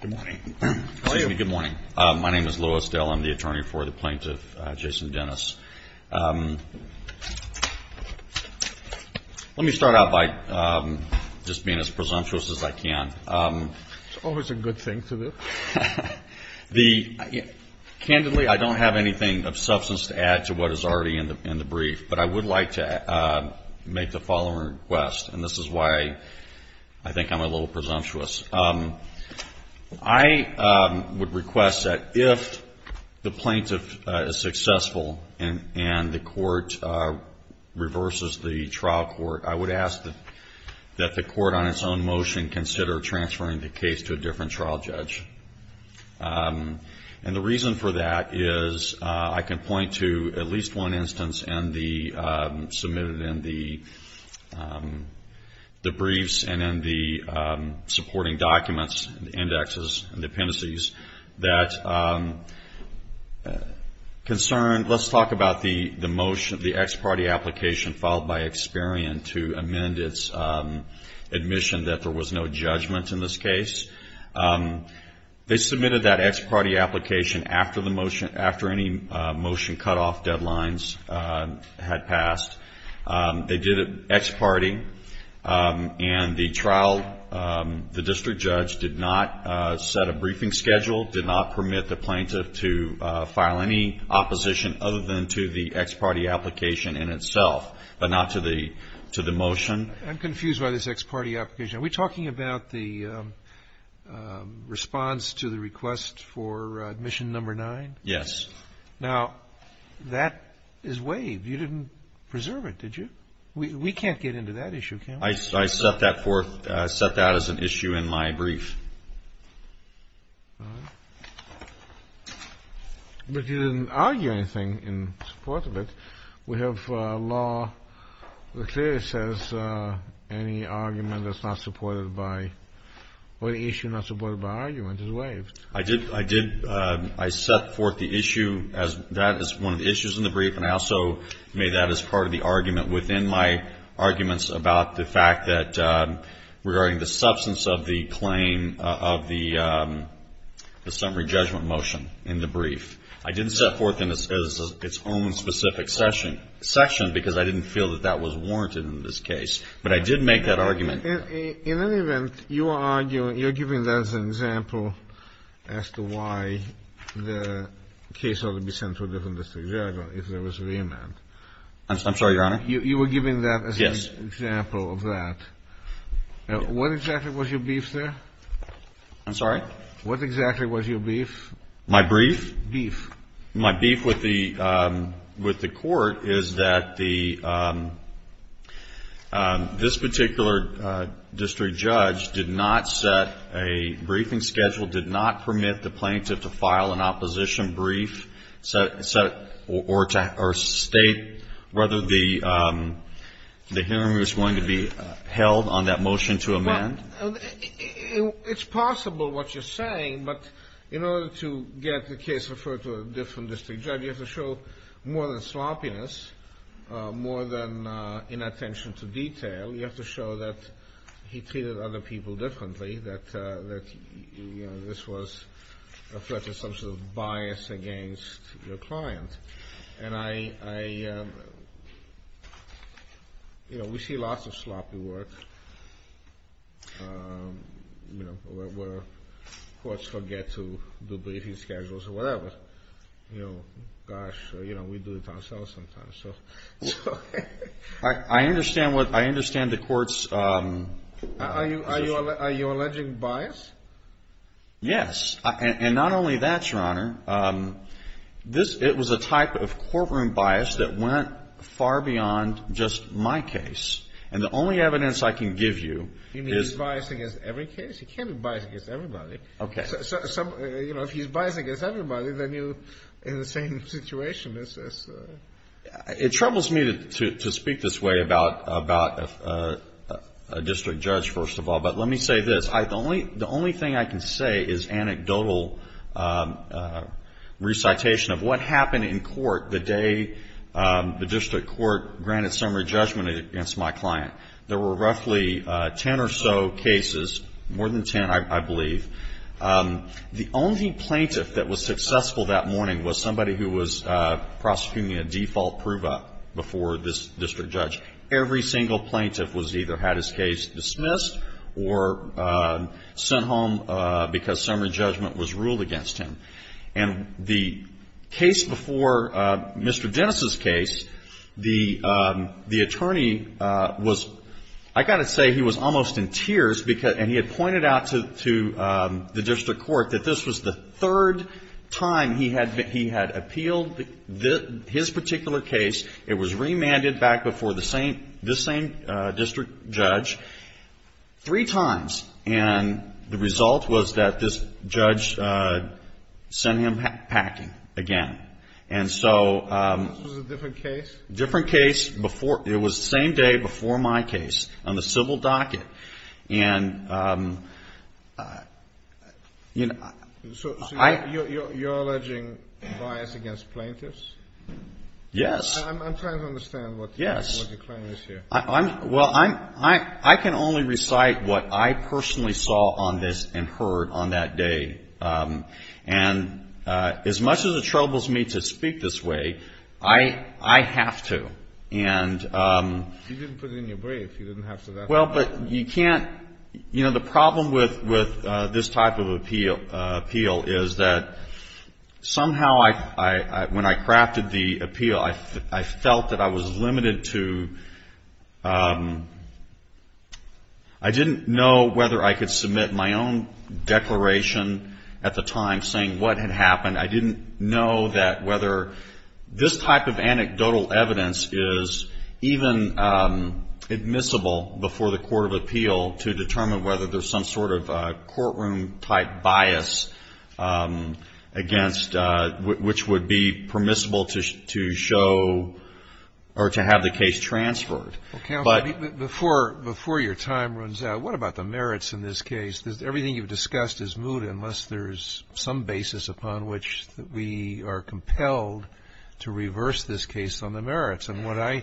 Good morning. Good morning. My name is Louis Dell. I'm the attorney for the plaintiff, Jason Dennis. Let me start out by just being as presumptuous as I can. It's always a good thing to do. Candidly, I don't have anything of substance to add to what is already in the brief, but I would like to make the following request, and this is why I think I'm a little presumptuous. I would request that if the plaintiff is successful and the court reverses the trial court, I would ask that the court on its own motion consider transferring the case to a different trial judge. And the reason for that is I can point to at least one instance submitted in the briefs and in the supporting documents, indexes, and appendices that concern, let's talk about the motion, the ex parte application filed by Experian to amend its admission that there was no judgment in this case. They submitted that ex parte application after the motion, after any motion cutoff deadlines had passed. They did it ex parte, and the trial, the district judge did not set a briefing schedule, did not permit the plaintiff to file any opposition other than to the ex parte application in itself, but not to the motion. I'm confused by this ex parte application. Are we talking about the response to the request for admission number nine? Yes. Now, that is waived. You didn't preserve it, did you? We can't get into that issue, can we? I set that forth, set that as an issue in my brief. But you didn't argue anything in support of it. We have law that clearly says any argument that's not supported by, or the issue not supported by argument is waived. I did. I set forth the issue as that is one of the issues in the brief, and I also made that as part of the argument within my arguments about the fact that, regarding the substance of the claim of the summary judgment motion in the brief, I didn't set forth in its own specific section because I didn't feel that that was warranted in this case. But I did make that argument. In any event, you are arguing, you're giving that as an example as to why the case ought to be sent to a different district judge if there was a remand. I'm sorry, Your Honor? You were giving that as an example of that. Yes. What exactly was your brief there? I'm sorry? What exactly was your brief? My brief? Brief. My brief with the Court is that this particular district judge did not set a briefing schedule, did not permit the plaintiff to file an opposition brief or state whether the hearing was going to be held on that motion to amend. It's possible what you're saying, but in order to get the case referred to a different district judge, you have to show more than sloppiness, more than inattention to detail. You have to show that he treated other people differently, that this was a threat to some sort of bias against your client. And I, you know, we see lots of sloppy work, you know, where courts forget to do briefing schedules or whatever. You know, gosh, you know, we do it ourselves sometimes, so. I understand what, I understand the court's. Are you alleging bias? Yes. And not only that, Your Honor, it was a type of courtroom bias that went far beyond just my case. And the only evidence I can give you is. You mean he's biased against every case? He can't be biased against everybody. Okay. You know, if he's biased against everybody, then you're in the same situation as... It troubles me to speak this way about a district judge, first of all. But let me say this. The only thing I can say is anecdotal recitation of what happened in court the day the district court granted summary judgment against my client. There were roughly 10 or so cases, more than 10, I believe. The only plaintiff that was successful that morning was somebody who was prosecuting a default prove-up before this district judge. Every single plaintiff was either had his case dismissed or sent home because summary judgment was ruled against him. And the case before Mr. Dennis' case, the attorney was, I've got to say, he was almost in tears. And he had pointed out to the district court that this was the third time he had appealed his particular case. It was remanded back before this same district judge three times. And the result was that this judge sent him packing again. And so... This was a different case? Different case. It was the same day before my case on the civil docket. And... So you're alleging bias against plaintiffs? Yes. I'm trying to understand what your claim is here. Well, I can only recite what I personally saw on this and heard on that day. And as much as it troubles me to speak this way, I have to. And... You didn't put it in your brief. You didn't have to. Well, but you can't... You know, the problem with this type of appeal is that somehow when I crafted the appeal, I felt that I was limited to... I didn't know whether I could submit my own declaration at the time saying what had happened. I didn't know that whether this type of anecdotal evidence is even admissible before the court of appeal to determine whether there's some sort of courtroom-type bias against which would be permissible to show or to have the case transferred. But... Well, counsel, before your time runs out, what about the merits in this case? Because everything you've discussed is moot unless there's some basis upon which we are compelled to reverse this case on the merits. And what I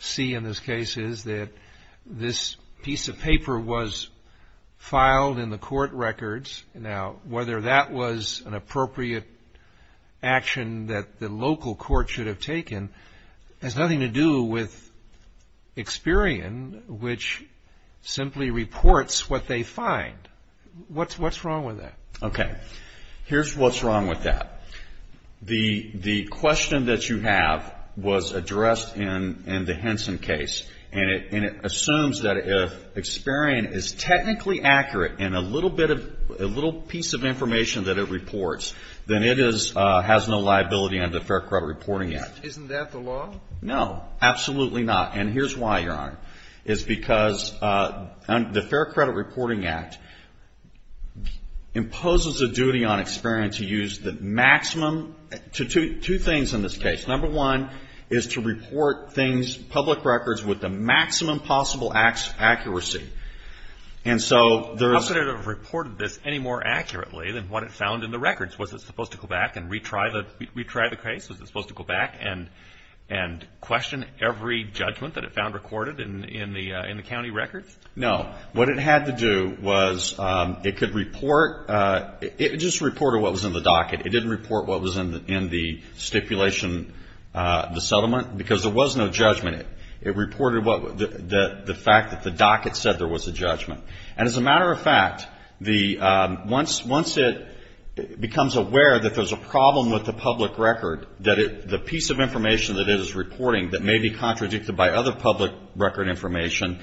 see in this case is that this piece of paper was filed in the court records. Now, whether that was an appropriate action that the local court should have taken has nothing to do with Experian, which simply reports what they find. What's wrong with that? Okay. Here's what's wrong with that. The question that you have was addressed in the Henson case. And it assumes that if Experian is technically accurate in a little piece of information that it reports, then it has no liability under the Fair Crowd Reporting Act. Isn't that the law? No. Absolutely not. And here's why, Your Honor. It's because the Fair Credit Reporting Act imposes a duty on Experian to use the maximum to two things in this case. Number one is to report things, public records, with the maximum possible accuracy. And so there is... How could it have reported this any more accurately than what it found in the records? Was it supposed to go back and retry the case? Was it supposed to go back and question every judgment that it found recorded in the county records? No. What it had to do was it could report... It just reported what was in the docket. It didn't report what was in the stipulation, the settlement, because there was no judgment. It reported the fact that the docket said there was a judgment. And as a matter of fact, once it becomes aware that there's a problem with the public record, that the piece of information that it is reporting that may be contradicted by other public record information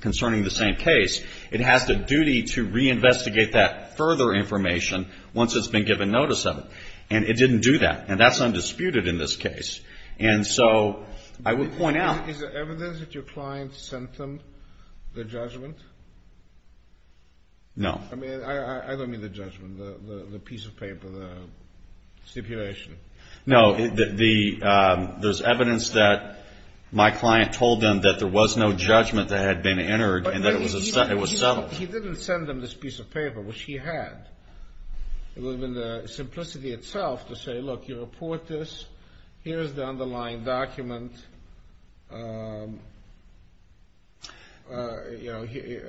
concerning the same case, it has the duty to reinvestigate that further information once it's been given notice of it. And it didn't do that. And that's undisputed in this case. And so I would point out... No. I don't mean the judgment, the piece of paper, the stipulation. No, there's evidence that my client told them that there was no judgment that had been entered and that it was settled. He didn't send them this piece of paper, which he had. It would have been the simplicity itself to say, look, you report this. Here's the underlying document. You know, he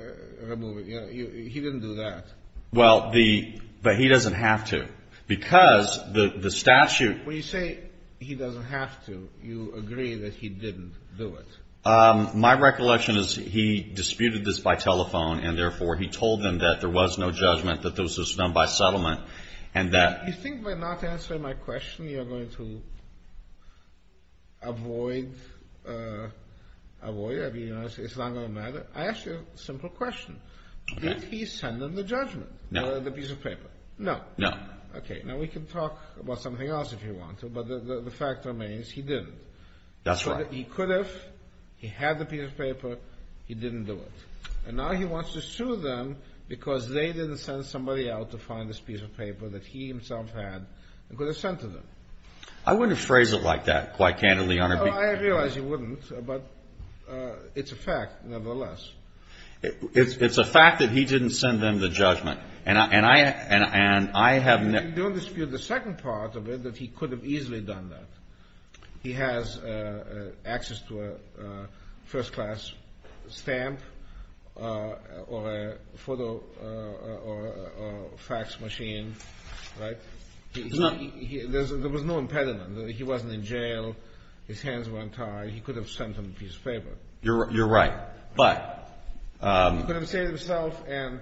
didn't do that. Well, but he doesn't have to. Because the statute... When you say he doesn't have to, you agree that he didn't do it. My recollection is he disputed this by telephone, and therefore he told them that there was no judgment, that this was done by settlement, and that... You think by not answering my question you're going to avoid... I mean, it's not going to matter. I asked you a simple question. Did he send them the judgment, the piece of paper? No. Okay, now we can talk about something else if you want to, but the fact remains he didn't. That's right. He could have. He had the piece of paper. He didn't do it. And now he wants to sue them because they didn't send somebody out to find this piece of paper that he himself had and could have sent to them. I wouldn't phrase it like that, quite candidly, Your Honor. Well, I realize you wouldn't, but it's a fact nevertheless. It's a fact that he didn't send them the judgment. And I have no... You don't dispute the second part of it, that he could have easily done that. He has access to a first-class stamp or a photo or fax machine, right? There was no impediment. He wasn't in jail. His hands weren't tied. He could have sent them the piece of paper. You're right, but... He could have saved himself and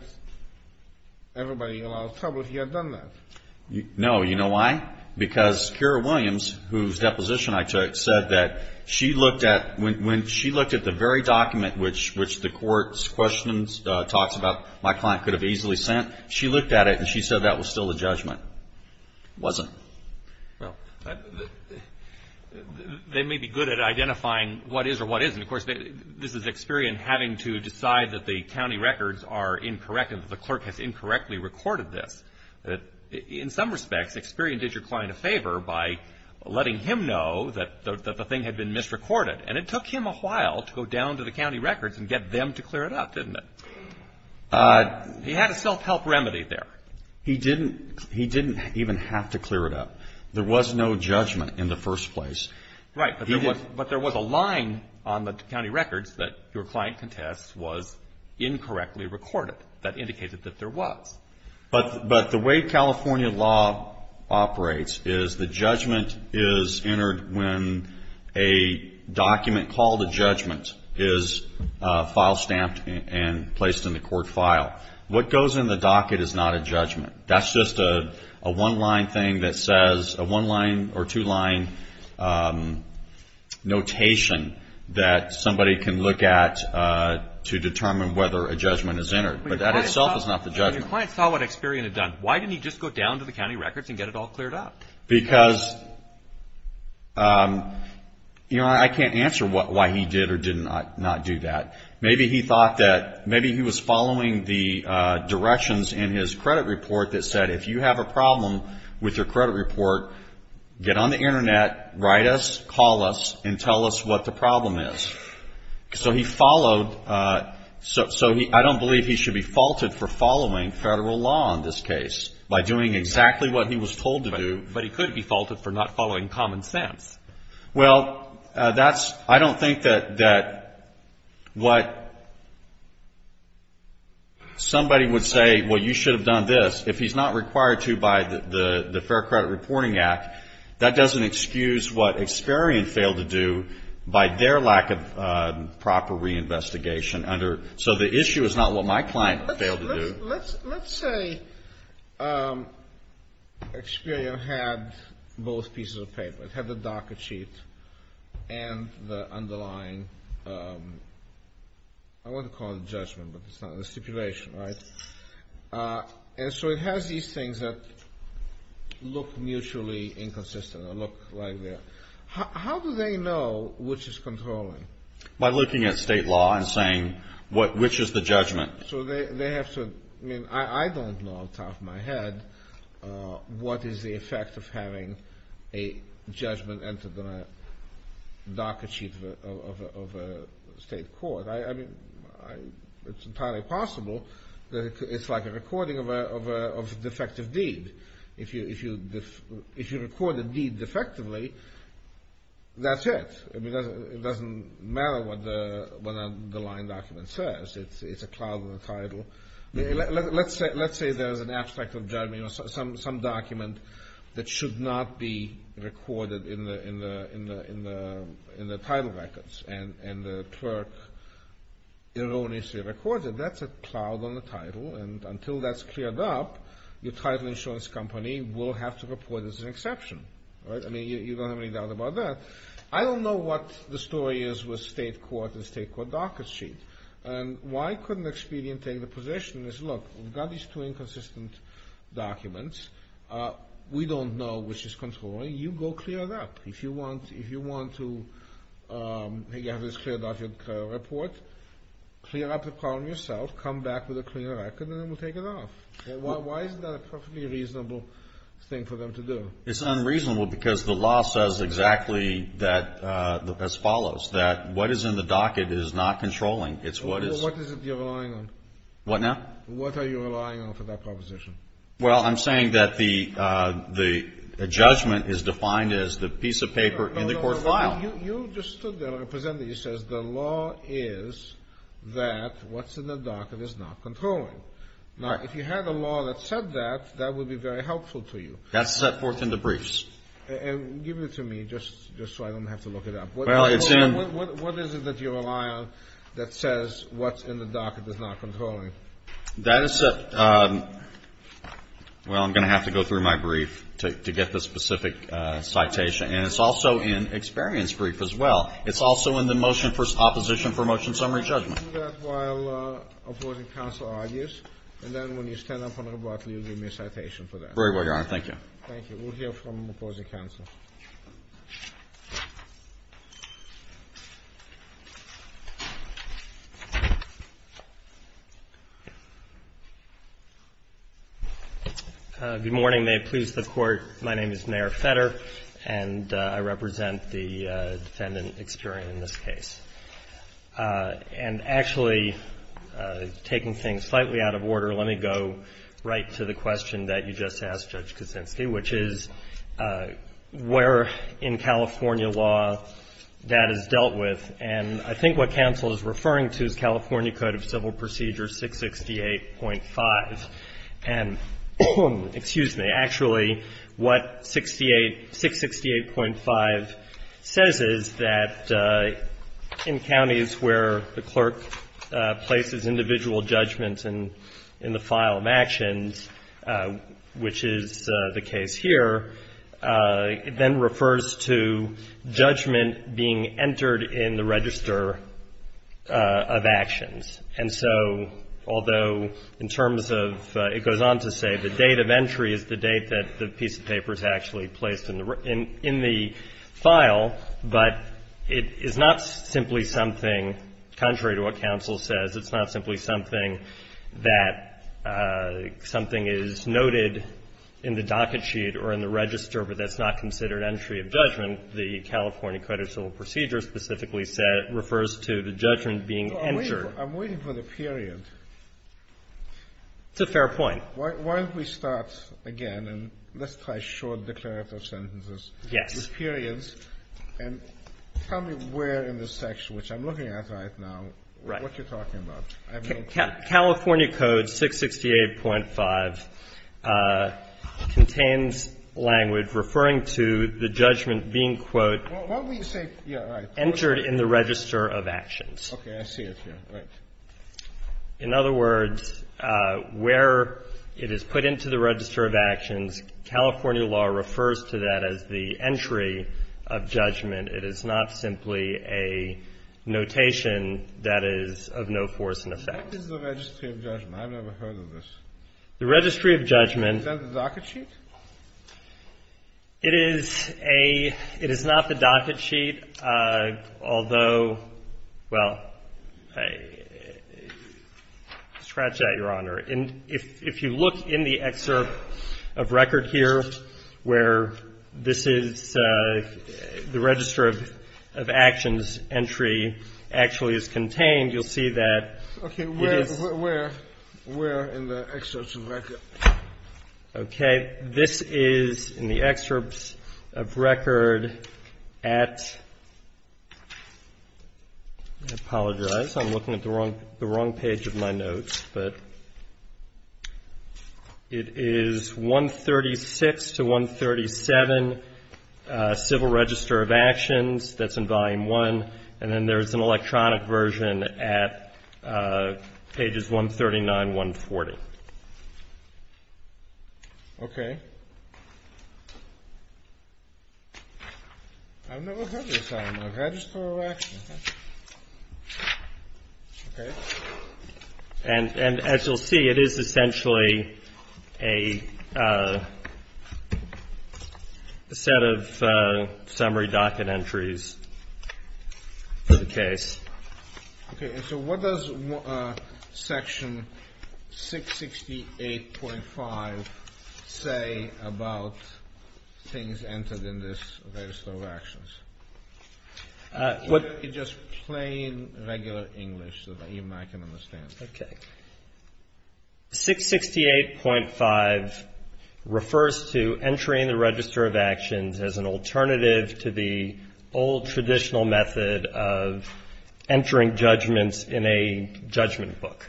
everybody in a lot of trouble if he had done that. No, you know why? Because Keira Williams, whose deposition I took, said that when she looked at the very document which the court's questions talks about my client could have easily sent, she looked at it and she said that was still the judgment. It wasn't. Well, they may be good at identifying what is or what isn't. Of course, this is Experian having to decide that the county records are incorrect and that the clerk has incorrectly recorded this. In some respects, Experian did your client a favor by letting him know that the thing had been misrecorded, and it took him a while to go down to the county records and get them to clear it up, didn't it? He had a self-help remedy there. He didn't even have to clear it up. There was no judgment in the first place. Right, but there was a line on the county records that your client contests was incorrectly recorded. That indicated that there was. But the way California law operates is the judgment is entered when a document called a judgment is file stamped and placed in the court file. What goes in the docket is not a judgment. That's just a one-line thing that says a one-line or two-line notation that somebody can look at to determine whether a judgment is entered. But that itself is not the judgment. When your client saw what Experian had done, why didn't he just go down to the county records and get it all cleared up? Because, you know, I can't answer why he did or did not do that. Maybe he thought that maybe he was following the directions in his credit report that said, if you have a problem with your credit report, get on the Internet, write us, call us, and tell us what the problem is. So he followed. So I don't believe he should be faulted for following Federal law in this case by doing exactly what he was told to do. But he could be faulted for not following common sense. Well, I don't think that what somebody would say, well, you should have done this, if he's not required to by the Fair Credit Reporting Act, that doesn't excuse what Experian failed to do by their lack of proper reinvestigation. So the issue is not what my client failed to do. Let's say Experian had both pieces of paper. It had the docket sheet and the underlying, I want to call it a judgment, but it's not a stipulation, right? And so it has these things that look mutually inconsistent or look like that. How do they know which is controlling? By looking at state law and saying which is the judgment. So they have to, I mean, I don't know off the top of my head what is the effect of having a judgment entered in a docket sheet of a state court. I mean, it's entirely possible that it's like a recording of a defective deed. If you record a deed defectively, that's it. It doesn't matter what the line document says. It's a cloud in the title. Let's say there's an abstract of judgment or some document that should not be recorded in the title records and the clerk erroneously records it. That's a cloud on the title, and until that's cleared up, your title insurance company will have to report it as an exception. I mean, you don't have any doubt about that. I don't know what the story is with state court and state court docket sheet. And why couldn't Expedian take the position and say, look, we've got these two inconsistent documents. We don't know which is controlling. You go clear it up. If you want to have this cleared up, you report, clear up the problem yourself, come back with a cleaner record, and then we'll take it off. Why is that a perfectly reasonable thing for them to do? It's unreasonable because the law says exactly that, as follows, that what is in the docket is not controlling. It's what is. What is it you're relying on? What now? What are you relying on for that proposition? Well, I'm saying that the judgment is defined as the piece of paper in the court file. No, no, no. You just stood there, Representative. You said the law is that what's in the docket is not controlling. Now, if you had a law that said that, that would be very helpful to you. That's set forth in the briefs. And give it to me just so I don't have to look it up. Well, it's in. What is it that you rely on that says what's in the docket is not controlling? That is set. Well, I'm going to have to go through my brief to get the specific citation. And it's also in experience brief as well. It's also in the motion for opposition for motion summary judgment. Do that while opposing counsel argues, and then when you stand up on the rebuttal, you give me a citation for that. Very well, Your Honor. Thank you. Thank you. We'll hear from opposing counsel. Good morning. May it please the Court. My name is Nair Fetter, and I represent the defendant, Experian, in this case. And actually, taking things slightly out of order, let me go right to the question that you just asked, Judge Kuczynski, which is where in California law that is dealt with. And I think what counsel is referring to is California Code of Civil Procedures 668.5. And, excuse me, actually, what 668.5 says is that in counties where the clerk places individual judgments in the file of actions, which is the case here, it then refers to judgment being entered in the register of actions. And so, although in terms of it goes on to say the date of entry is the date that the piece of paper is actually placed in the file, but it is not simply something contrary to what counsel says. It's not simply something that something is noted in the docket sheet or in the register, but that's not considered entry of judgment. The California Code of Civil Procedures specifically said it refers to the judgment being entered. Scalia. I'm waiting for the period. Katyal. It's a fair point. Scalia. Why don't we start again, and let's try short declarative sentences. Katyal. Yes. Scalia. With periods. And tell me where in this section, which I'm looking at right now, what you're talking about. California Code 668.5 contains language referring to the judgment being, quote, entered in the register of actions. Scalia. Okay. I see it here. Right. Katyal. In other words, where it is put into the register of actions, California law refers to that as the entry of judgment. It is not simply a notation that is of no force and effect. Scalia. What is the registry of judgment? I've never heard of this. The registry of judgment. Is that the docket sheet? Katyal. It is a — it is not the docket sheet, although — well, scratch that, Your Honor. If you look in the excerpt of record here where this is — the register of actions entry actually is contained, you'll see that it is — Scalia. Okay. Where in the excerpt of record? Katyal. Okay. This is in the excerpt of record at — I apologize. I'm looking at the wrong page of my notes, but it is 136 to 137, civil register of actions. That's in volume one. And then there's an electronic version at pages 139, 140. Scalia. Okay. I've never heard this, I don't know. Register of actions. Okay. Katyal. And as you'll see, it is essentially a set of summary docket entries. Okay. And so what does section 668.5 say about things entered in this register of actions? Just plain, regular English so that even I can understand. Okay. 668.5 refers to entering the register of actions as an alternative to the old traditional method of entering judgments in a judgment book.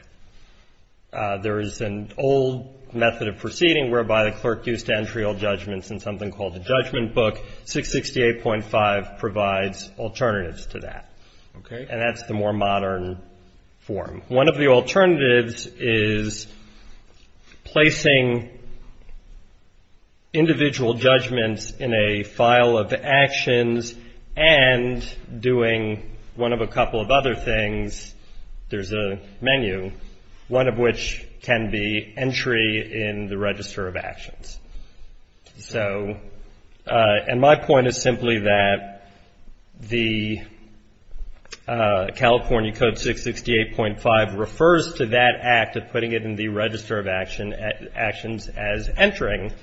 There is an old method of proceeding whereby the clerk used to entry all judgments in something called the judgment book. 668.5 provides alternatives to that. Okay. And that's the more modern form. One of the alternatives is placing individual judgments in a file of actions and doing one of a couple of other things, there's a menu, one of which can be entry in the register of actions. So, and my point is simply that the California Code 668.5 refers to that act of putting it in the register of actions as entering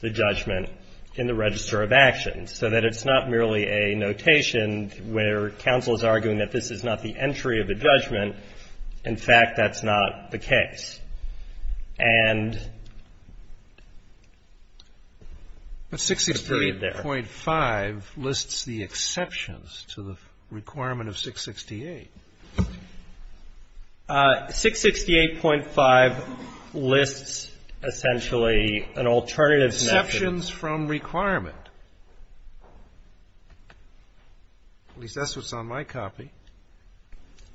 the judgment in the register of actions, so that it's not merely a notation where counsel is arguing that this is not the entry of a judgment. In fact, that's not the case. And. 668.5 lists the exceptions to the requirement of 668. 668.5 lists essentially an alternative. Exceptions from requirement. At least that's what's on my copy.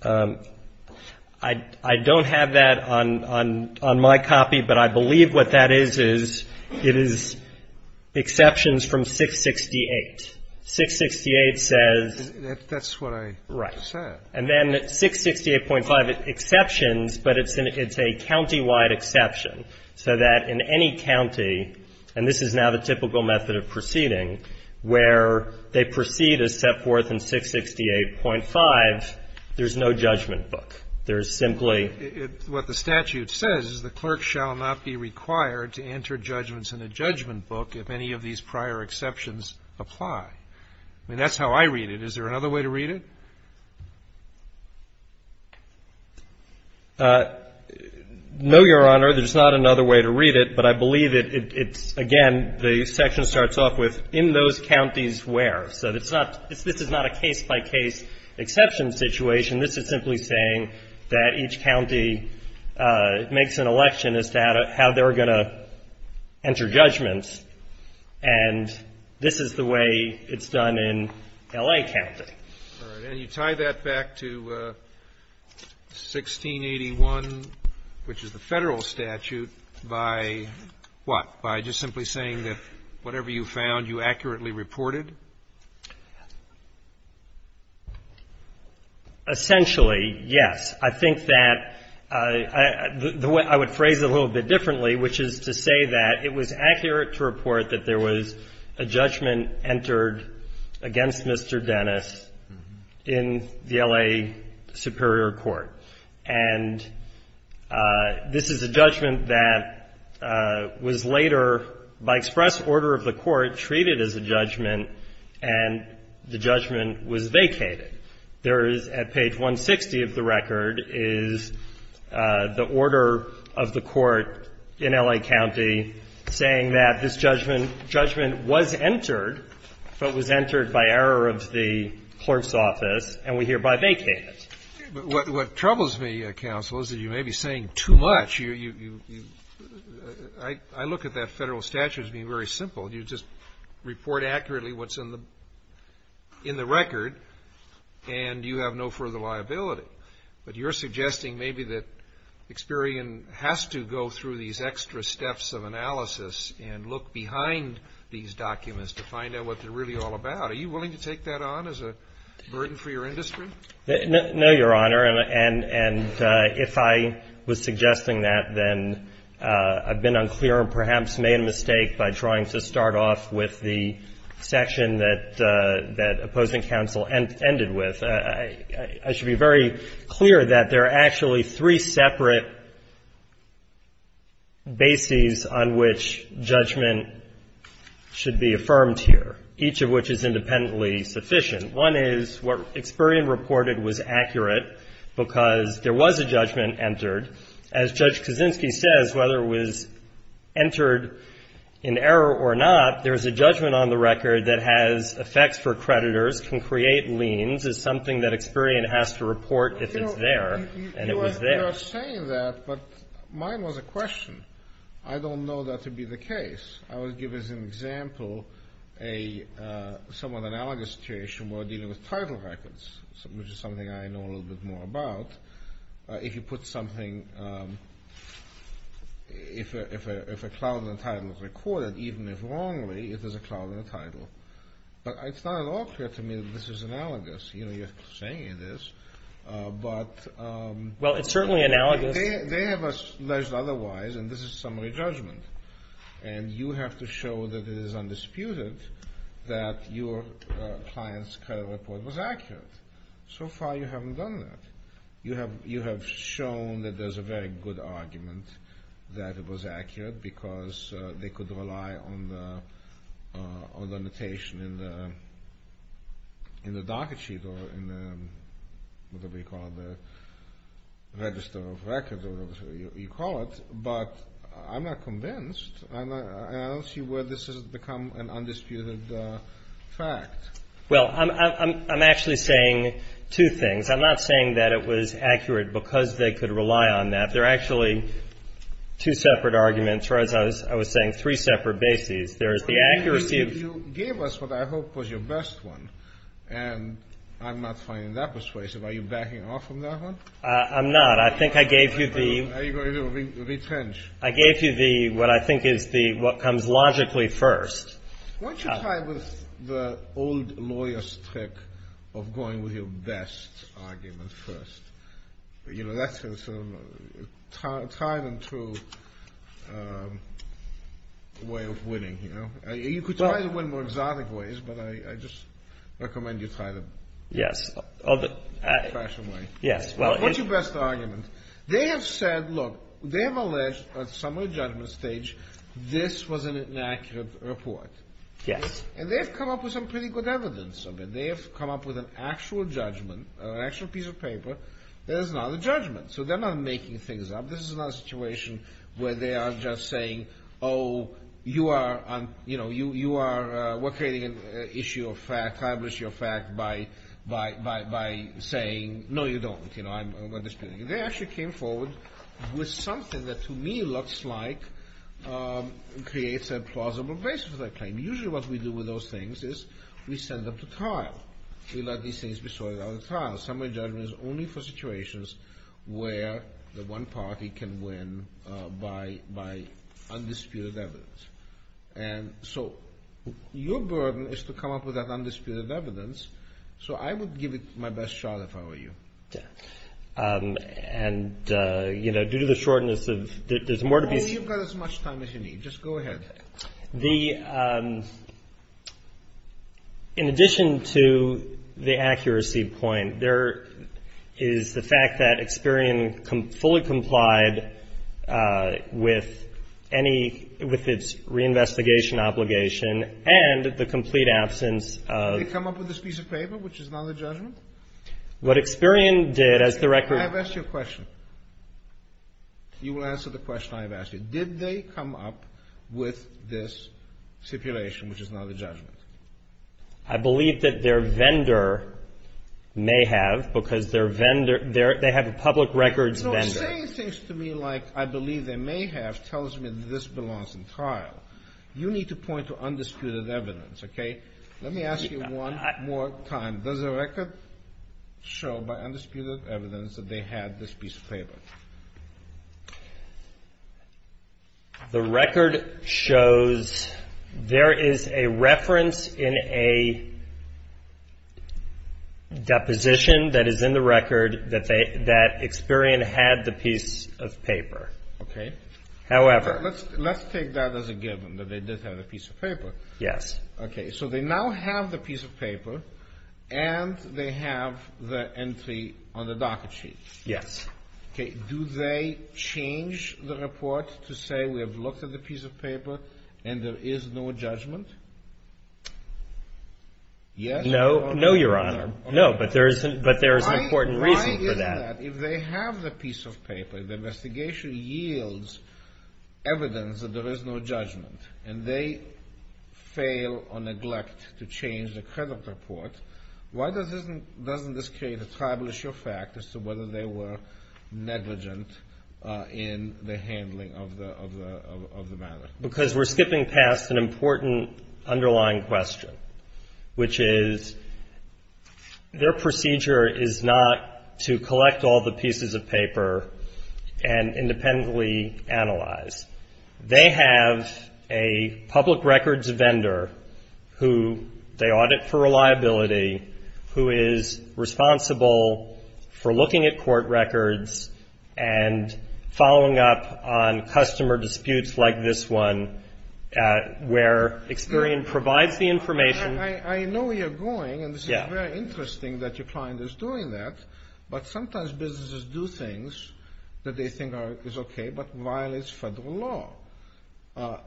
I don't have that on my copy, but I believe what that is, is it is exceptions from 668. 668 says. That's what I said. Right. And then 668.5 exceptions, but it's a countywide exception, so that in any county, and this is now the typical method of proceeding, where they proceed as set forth in 668.5, there's no judgment book. There is simply. What the statute says is the clerk shall not be required to enter judgments in a judgment book if any of these prior exceptions apply. I mean, that's how I read it. Is there another way to read it? No, Your Honor. There's not another way to read it, but I believe it's, again, the section starts off with in those counties where. So it's not, this is not a case-by-case exception situation. This is simply saying that each county makes an election as to how they're going to enter judgments. And this is the way it's done in L.A. County. All right. And you tie that back to 1681, which is the Federal statute, by what? By just simply saying that whatever you found, you accurately reported? Essentially, yes. I think that I would phrase it a little bit differently, which is to say that it was accurate to report that there was a judgment entered against Mr. Dennis in the L.A. Superior Court. And this is a judgment that was later, by express order of the Court, treated as a judgment, and the judgment was vacated. There is, at page 160 of the record, is the order of the Court in L.A. County saying that this judgment was entered, but was entered by error of the clerk's office, and we hereby vacate it. What troubles me, counsel, is that you may be saying too much. I look at that Federal statute as being very simple. You just report accurately what's in the record, and you have no further liability. But you're suggesting maybe that Experian has to go through these extra steps of analysis and look behind these documents to find out what they're really all about. Are you willing to take that on as a burden for your industry? No, Your Honor. And if I was suggesting that, then I've been unclear and perhaps made a mistake by trying to start off with the section that opposing counsel ended with. I should be very clear that there are actually three separate bases on which judgment should be affirmed here, each of which is independently sufficient. One is what Experian reported was accurate because there was a judgment entered. As Judge Kaczynski says, whether it was entered in error or not, there is a judgment on the record that has effects for creditors, can create liens, is something that Experian has to report if it's there, and it was there. You are saying that, but mine was a question. I don't know that to be the case. I would give as an example a somewhat analogous situation where we're dealing with title records, which is something I know a little bit more about. If you put something, if a cloud in the title is recorded, even if wrongly, it is a cloud in the title. But it's not at all clear to me that this is analogous. You're saying it is, but they have alleged otherwise, and this is summary judgment. And you have to show that it is undisputed that your client's credit report was accurate. So far you haven't done that. You have shown that there's a very good argument that it was accurate because they could rely on the notation in the docket sheet or in the, whatever you call it, the register of records, whatever you call it. But I'm not convinced, and I don't see where this has become an undisputed fact. Well, I'm actually saying two things. I'm not saying that it was accurate because they could rely on that. There are actually two separate arguments, or as I was saying, three separate bases. There is the accuracy of the- You gave us what I hope was your best one, and I'm not finding that persuasive. Are you backing off from that one? I'm not. I think I gave you the- Are you going to retrench? I gave you the, what I think is the, what comes logically first. Why don't you try with the old lawyer's trick of going with your best argument first? You know, that's a time and true way of winning, you know? You could try to win more exotic ways, but I just recommend you try the- Yes. Fashion way. Yes. What's your best argument? They have said, look, they have alleged at some of the judgment stage this was an inaccurate report. Yes. And they have come up with some pretty good evidence of it. They have come up with an actual judgment, an actual piece of paper that is not a judgment. So they're not making things up. This is not a situation where they are just saying, oh, you are, you know, you are creating an issue of fact, by saying, no, you don't, you know, I'm not disputing it. They actually came forward with something that to me looks like creates a plausible basis for that claim. Usually what we do with those things is we send them to trial. We let these things be sorted out at trial. Summary judgment is only for situations where the one party can win by undisputed evidence. And so your burden is to come up with that undisputed evidence. So I would give it my best shot if I were you. And, you know, due to the shortness of- You've got as much time as you need. Just go ahead. The, in addition to the accuracy point, there is the fact that Experian fully complied with any, with its reinvestigation obligation and the complete absence of- Did they come up with this piece of paper, which is not a judgment? What Experian did, as the record- I have asked you a question. You will answer the question I have asked you. Did they come up with this stipulation, which is not a judgment? I believe that their vendor may have because their vendor- They have a public records vendor. You know, saying things to me like I believe they may have tells me that this belongs in trial. You need to point to undisputed evidence, okay? Let me ask you one more time. Does the record show by undisputed evidence that they had this piece of paper? The record shows there is a reference in a deposition that is in the record that Experian had the piece of paper. Okay. However- Let's take that as a given, that they did have the piece of paper. Yes. Okay. So they now have the piece of paper and they have the entry on the docket sheet. Yes. Okay. Do they change the report to say we have looked at the piece of paper and there is no judgment? Yes or no? No, Your Honor. No, but there is an important reason for that. Why is that? If they have the piece of paper, the investigation yields evidence that there is no judgment, and they fail or neglect to change the credit report, why doesn't this create a tribal issue of fact as to whether they were negligent in the handling of the matter? Because we're skipping past an important underlying question, which is their procedure is not to collect all the pieces of paper and independently analyze. They have a public records vendor who they audit for reliability, who is responsible for looking at court records and following up on customer disputes like this one, where Experian provides the information- I know where you're going, and this is very interesting that your client is doing that, but sometimes businesses do things that they think is okay but violates federal law.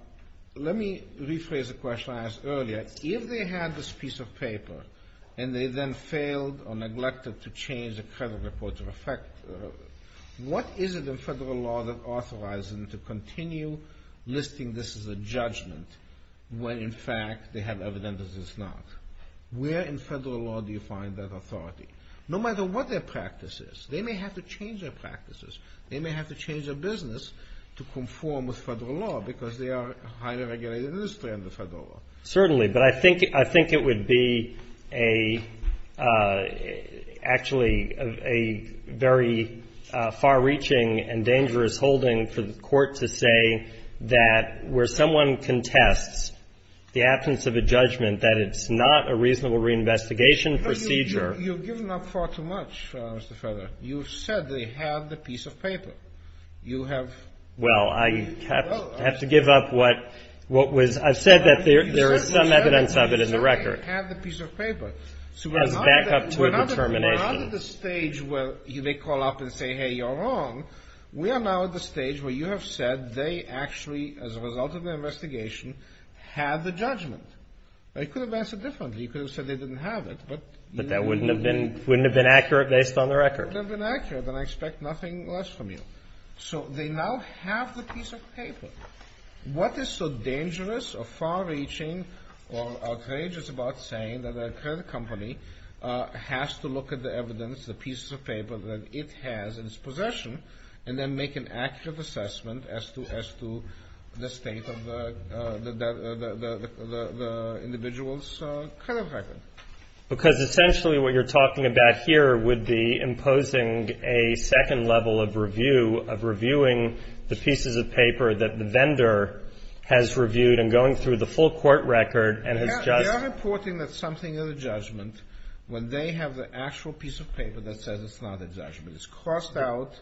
Let me rephrase the question I asked earlier. If they had this piece of paper and they then failed or neglected to change the credit report to reflect, what is it in federal law that authorizes them to continue listing this as a judgment when in fact they have evidence that it's not? Where in federal law do you find that authority? No matter what their practice is, they may have to change their practices. They may have to change their business to conform with federal law because they are a highly regulated industry under federal law. Certainly, but I think it would be actually a very far-reaching and dangerous holding for the court to say that where someone contests the absence of a judgment, that it's not a reasonable reinvestigation procedure- You've given up far too much, Mr. Feather. You've said they have the piece of paper. You have- Well, I have to give up what was- I've said that there is some evidence of it in the record. You've said they have the piece of paper. So we're not at the stage where you may call up and say, hey, you're wrong. We are now at the stage where you have said they actually, as a result of the investigation, have the judgment. You could have answered differently. You could have said they didn't have it, but- But that wouldn't have been accurate based on the record. It wouldn't have been accurate, and I expect nothing less from you. So they now have the piece of paper. What is so dangerous or far-reaching or outrageous about saying that a credit company has to look at the evidence, the pieces of paper that it has in its possession, and then make an accurate assessment as to the state of the individual's credit record? Because essentially what you're talking about here would be imposing a second level of review, of reviewing the pieces of paper that the vendor has reviewed and going through the full court record and has just- They are reporting that something is a judgment when they have the actual piece of paper that says it's not a judgment. It's crossed out.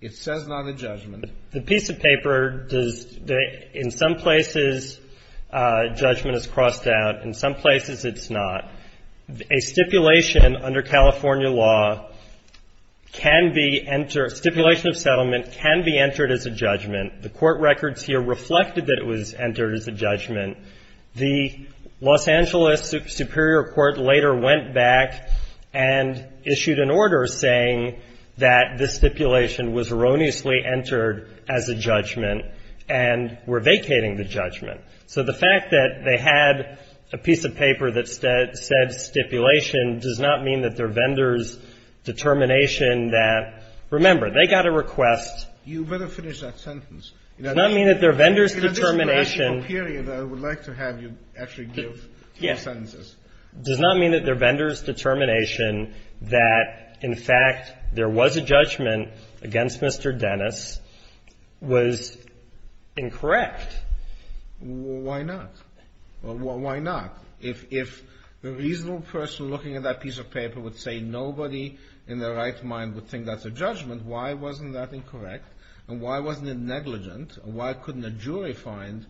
It says not a judgment. The piece of paper does, in some places, judgment is crossed out. In some places it's not. A stipulation under California law can be, stipulation of settlement can be entered as a judgment. The court records here reflected that it was entered as a judgment. The Los Angeles Superior Court later went back and issued an order saying that this stipulation was erroneously entered as a judgment and were vacating the judgment. So the fact that they had a piece of paper that said stipulation does not mean that their vendor's determination that, remember, they got a request- You'd better finish that sentence. It does not mean that their vendor's determination- I would like to have you actually give two sentences. Does not mean that their vendor's determination that, in fact, there was a judgment against Mr. Dennis was incorrect. Why not? Why not? If a reasonable person looking at that piece of paper would say nobody in their right mind would think that's a judgment, why wasn't that incorrect and why wasn't it negligent? Why couldn't a jury find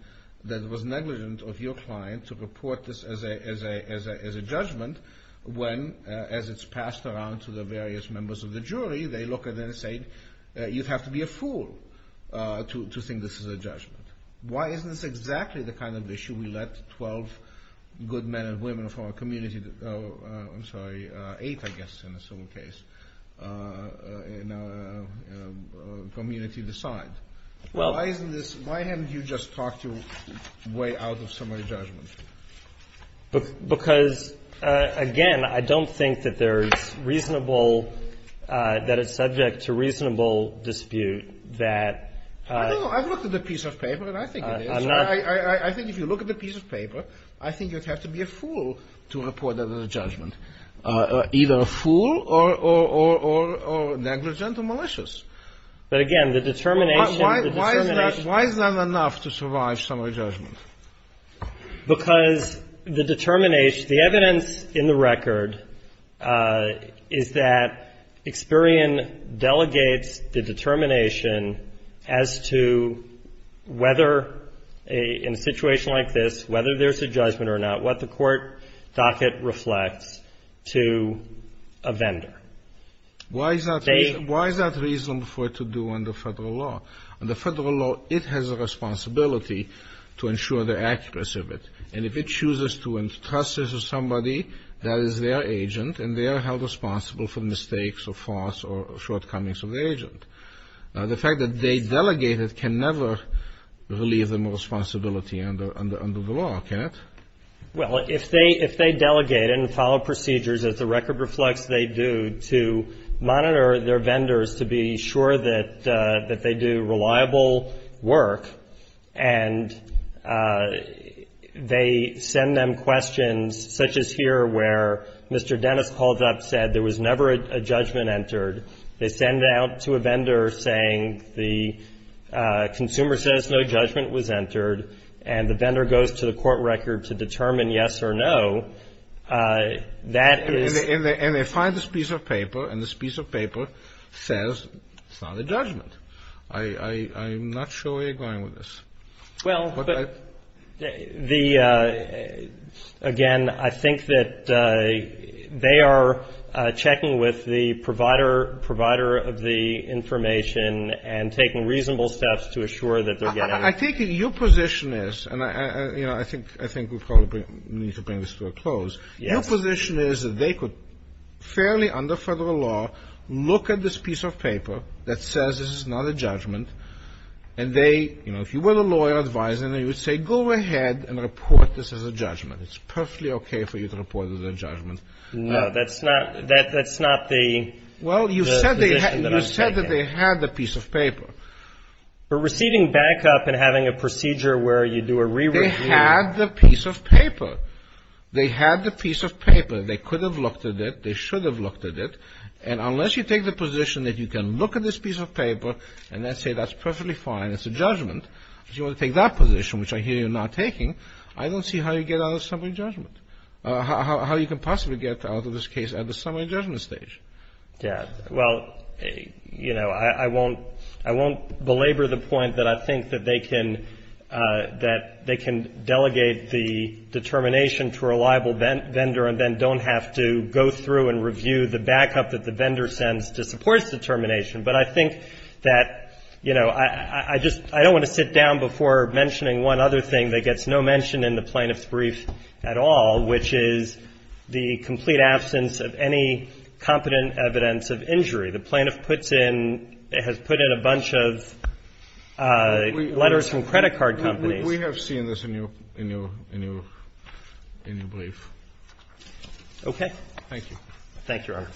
that it was negligent of your client to report this as a judgment when, as it's passed around to the various members of the jury, they look at it and say, you'd have to be a fool to think this is a judgment. Why isn't this exactly the kind of issue we let 12 good men and women from our community- community decide? Well- Why isn't this- Why haven't you just talked your way out of summary judgment? Because, again, I don't think that there's reasonable-that it's subject to reasonable dispute that- I don't know. I've looked at the piece of paper, and I think it is. I think if you look at the piece of paper, I think you'd have to be a fool to report that as a judgment. Either a fool or negligent or malicious. But, again, the determination- Why is that- Why is that enough to survive summary judgment? Because the determination-the evidence in the record is that Experian delegates the determination as to whether in a situation like this, whether there's a judgment or not, what the court docket reflects to a vendor. Why is that- They- Why is that reasonable for it to do under federal law? Under federal law, it has a responsibility to ensure the accuracy of it. And if it chooses to entrust this to somebody, that is their agent, and they are held responsible for mistakes or faults or shortcomings of the agent. The fact that they delegate it can never relieve them of responsibility under the law, can it? Well, if they delegate it and follow procedures, as the record reflects, they do to monitor their vendors to be sure that they do reliable work, and they send them questions such as here where Mr. Dennis called up and said there was never a judgment entered. They send it out to a vendor saying the consumer says no judgment was entered, and the vendor goes to the court record to determine yes or no, that is- And they find this piece of paper, and this piece of paper says it's not a judgment. I'm not sure where you're going with this. Well, the- But I- Again, I think that they are checking with the provider of the information and taking reasonable steps to assure that they're getting it. I think your position is, and I think we probably need to bring this to a close. Yes. Your position is that they could, fairly under federal law, look at this piece of paper that says this is not a judgment, and they, you know, if you were a lawyer advising them, you would say go ahead and report this as a judgment. It's perfectly okay for you to report it as a judgment. No, that's not the- Well, you said that they had the piece of paper. But receiving backup and having a procedure where you do a re-review- They had the piece of paper. They had the piece of paper. They could have looked at it. They should have looked at it. And unless you take the position that you can look at this piece of paper and then say that's perfectly fine, it's a judgment, if you want to take that position, which I hear you're not taking, I don't see how you get out of the summary judgment, how you can possibly get out of this case at the summary judgment stage. Yeah. Well, you know, I won't belabor the point that I think that they can delegate the determination to a liable vendor and then don't have to go through and review the backup that the vendor sends to support its determination. But I think that, you know, I just don't want to sit down before mentioning one other thing that gets no mention in the Plaintiff's Brief at all, which is the complete absence of any competent evidence of injury. The Plaintiff puts in – has put in a bunch of letters from credit card companies. We have seen this in your – in your – in your brief. Thank you. Thank you, Your Honor.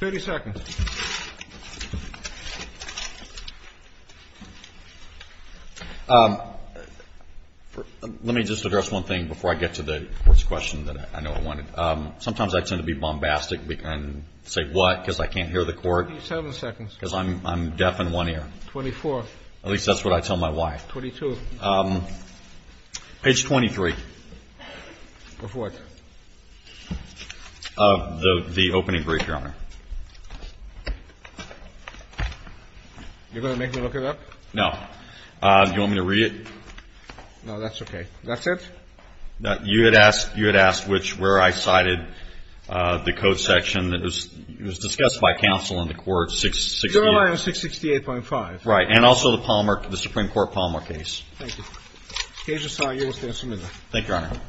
30 seconds. Let me just address one thing before I get to the court's question that I know I wanted. Sometimes I tend to be bombastic and say what because I can't hear the court. 27 seconds. Because I'm deaf in one ear. 24. At least that's what I tell my wife. Page 23. Of what? Of the opening brief, Your Honor. You're going to make me look it up? No. Do you want me to read it? No, that's okay. That's it? No. You had asked – you had asked which – where I cited the code section that was – it was discussed by counsel in the court 668. Your Honor, 668.5. Right. And also the Palmer – the Supreme Court Palmer case. Thank you. The case is signed. You will stand submitted. Thank you, Your Honor.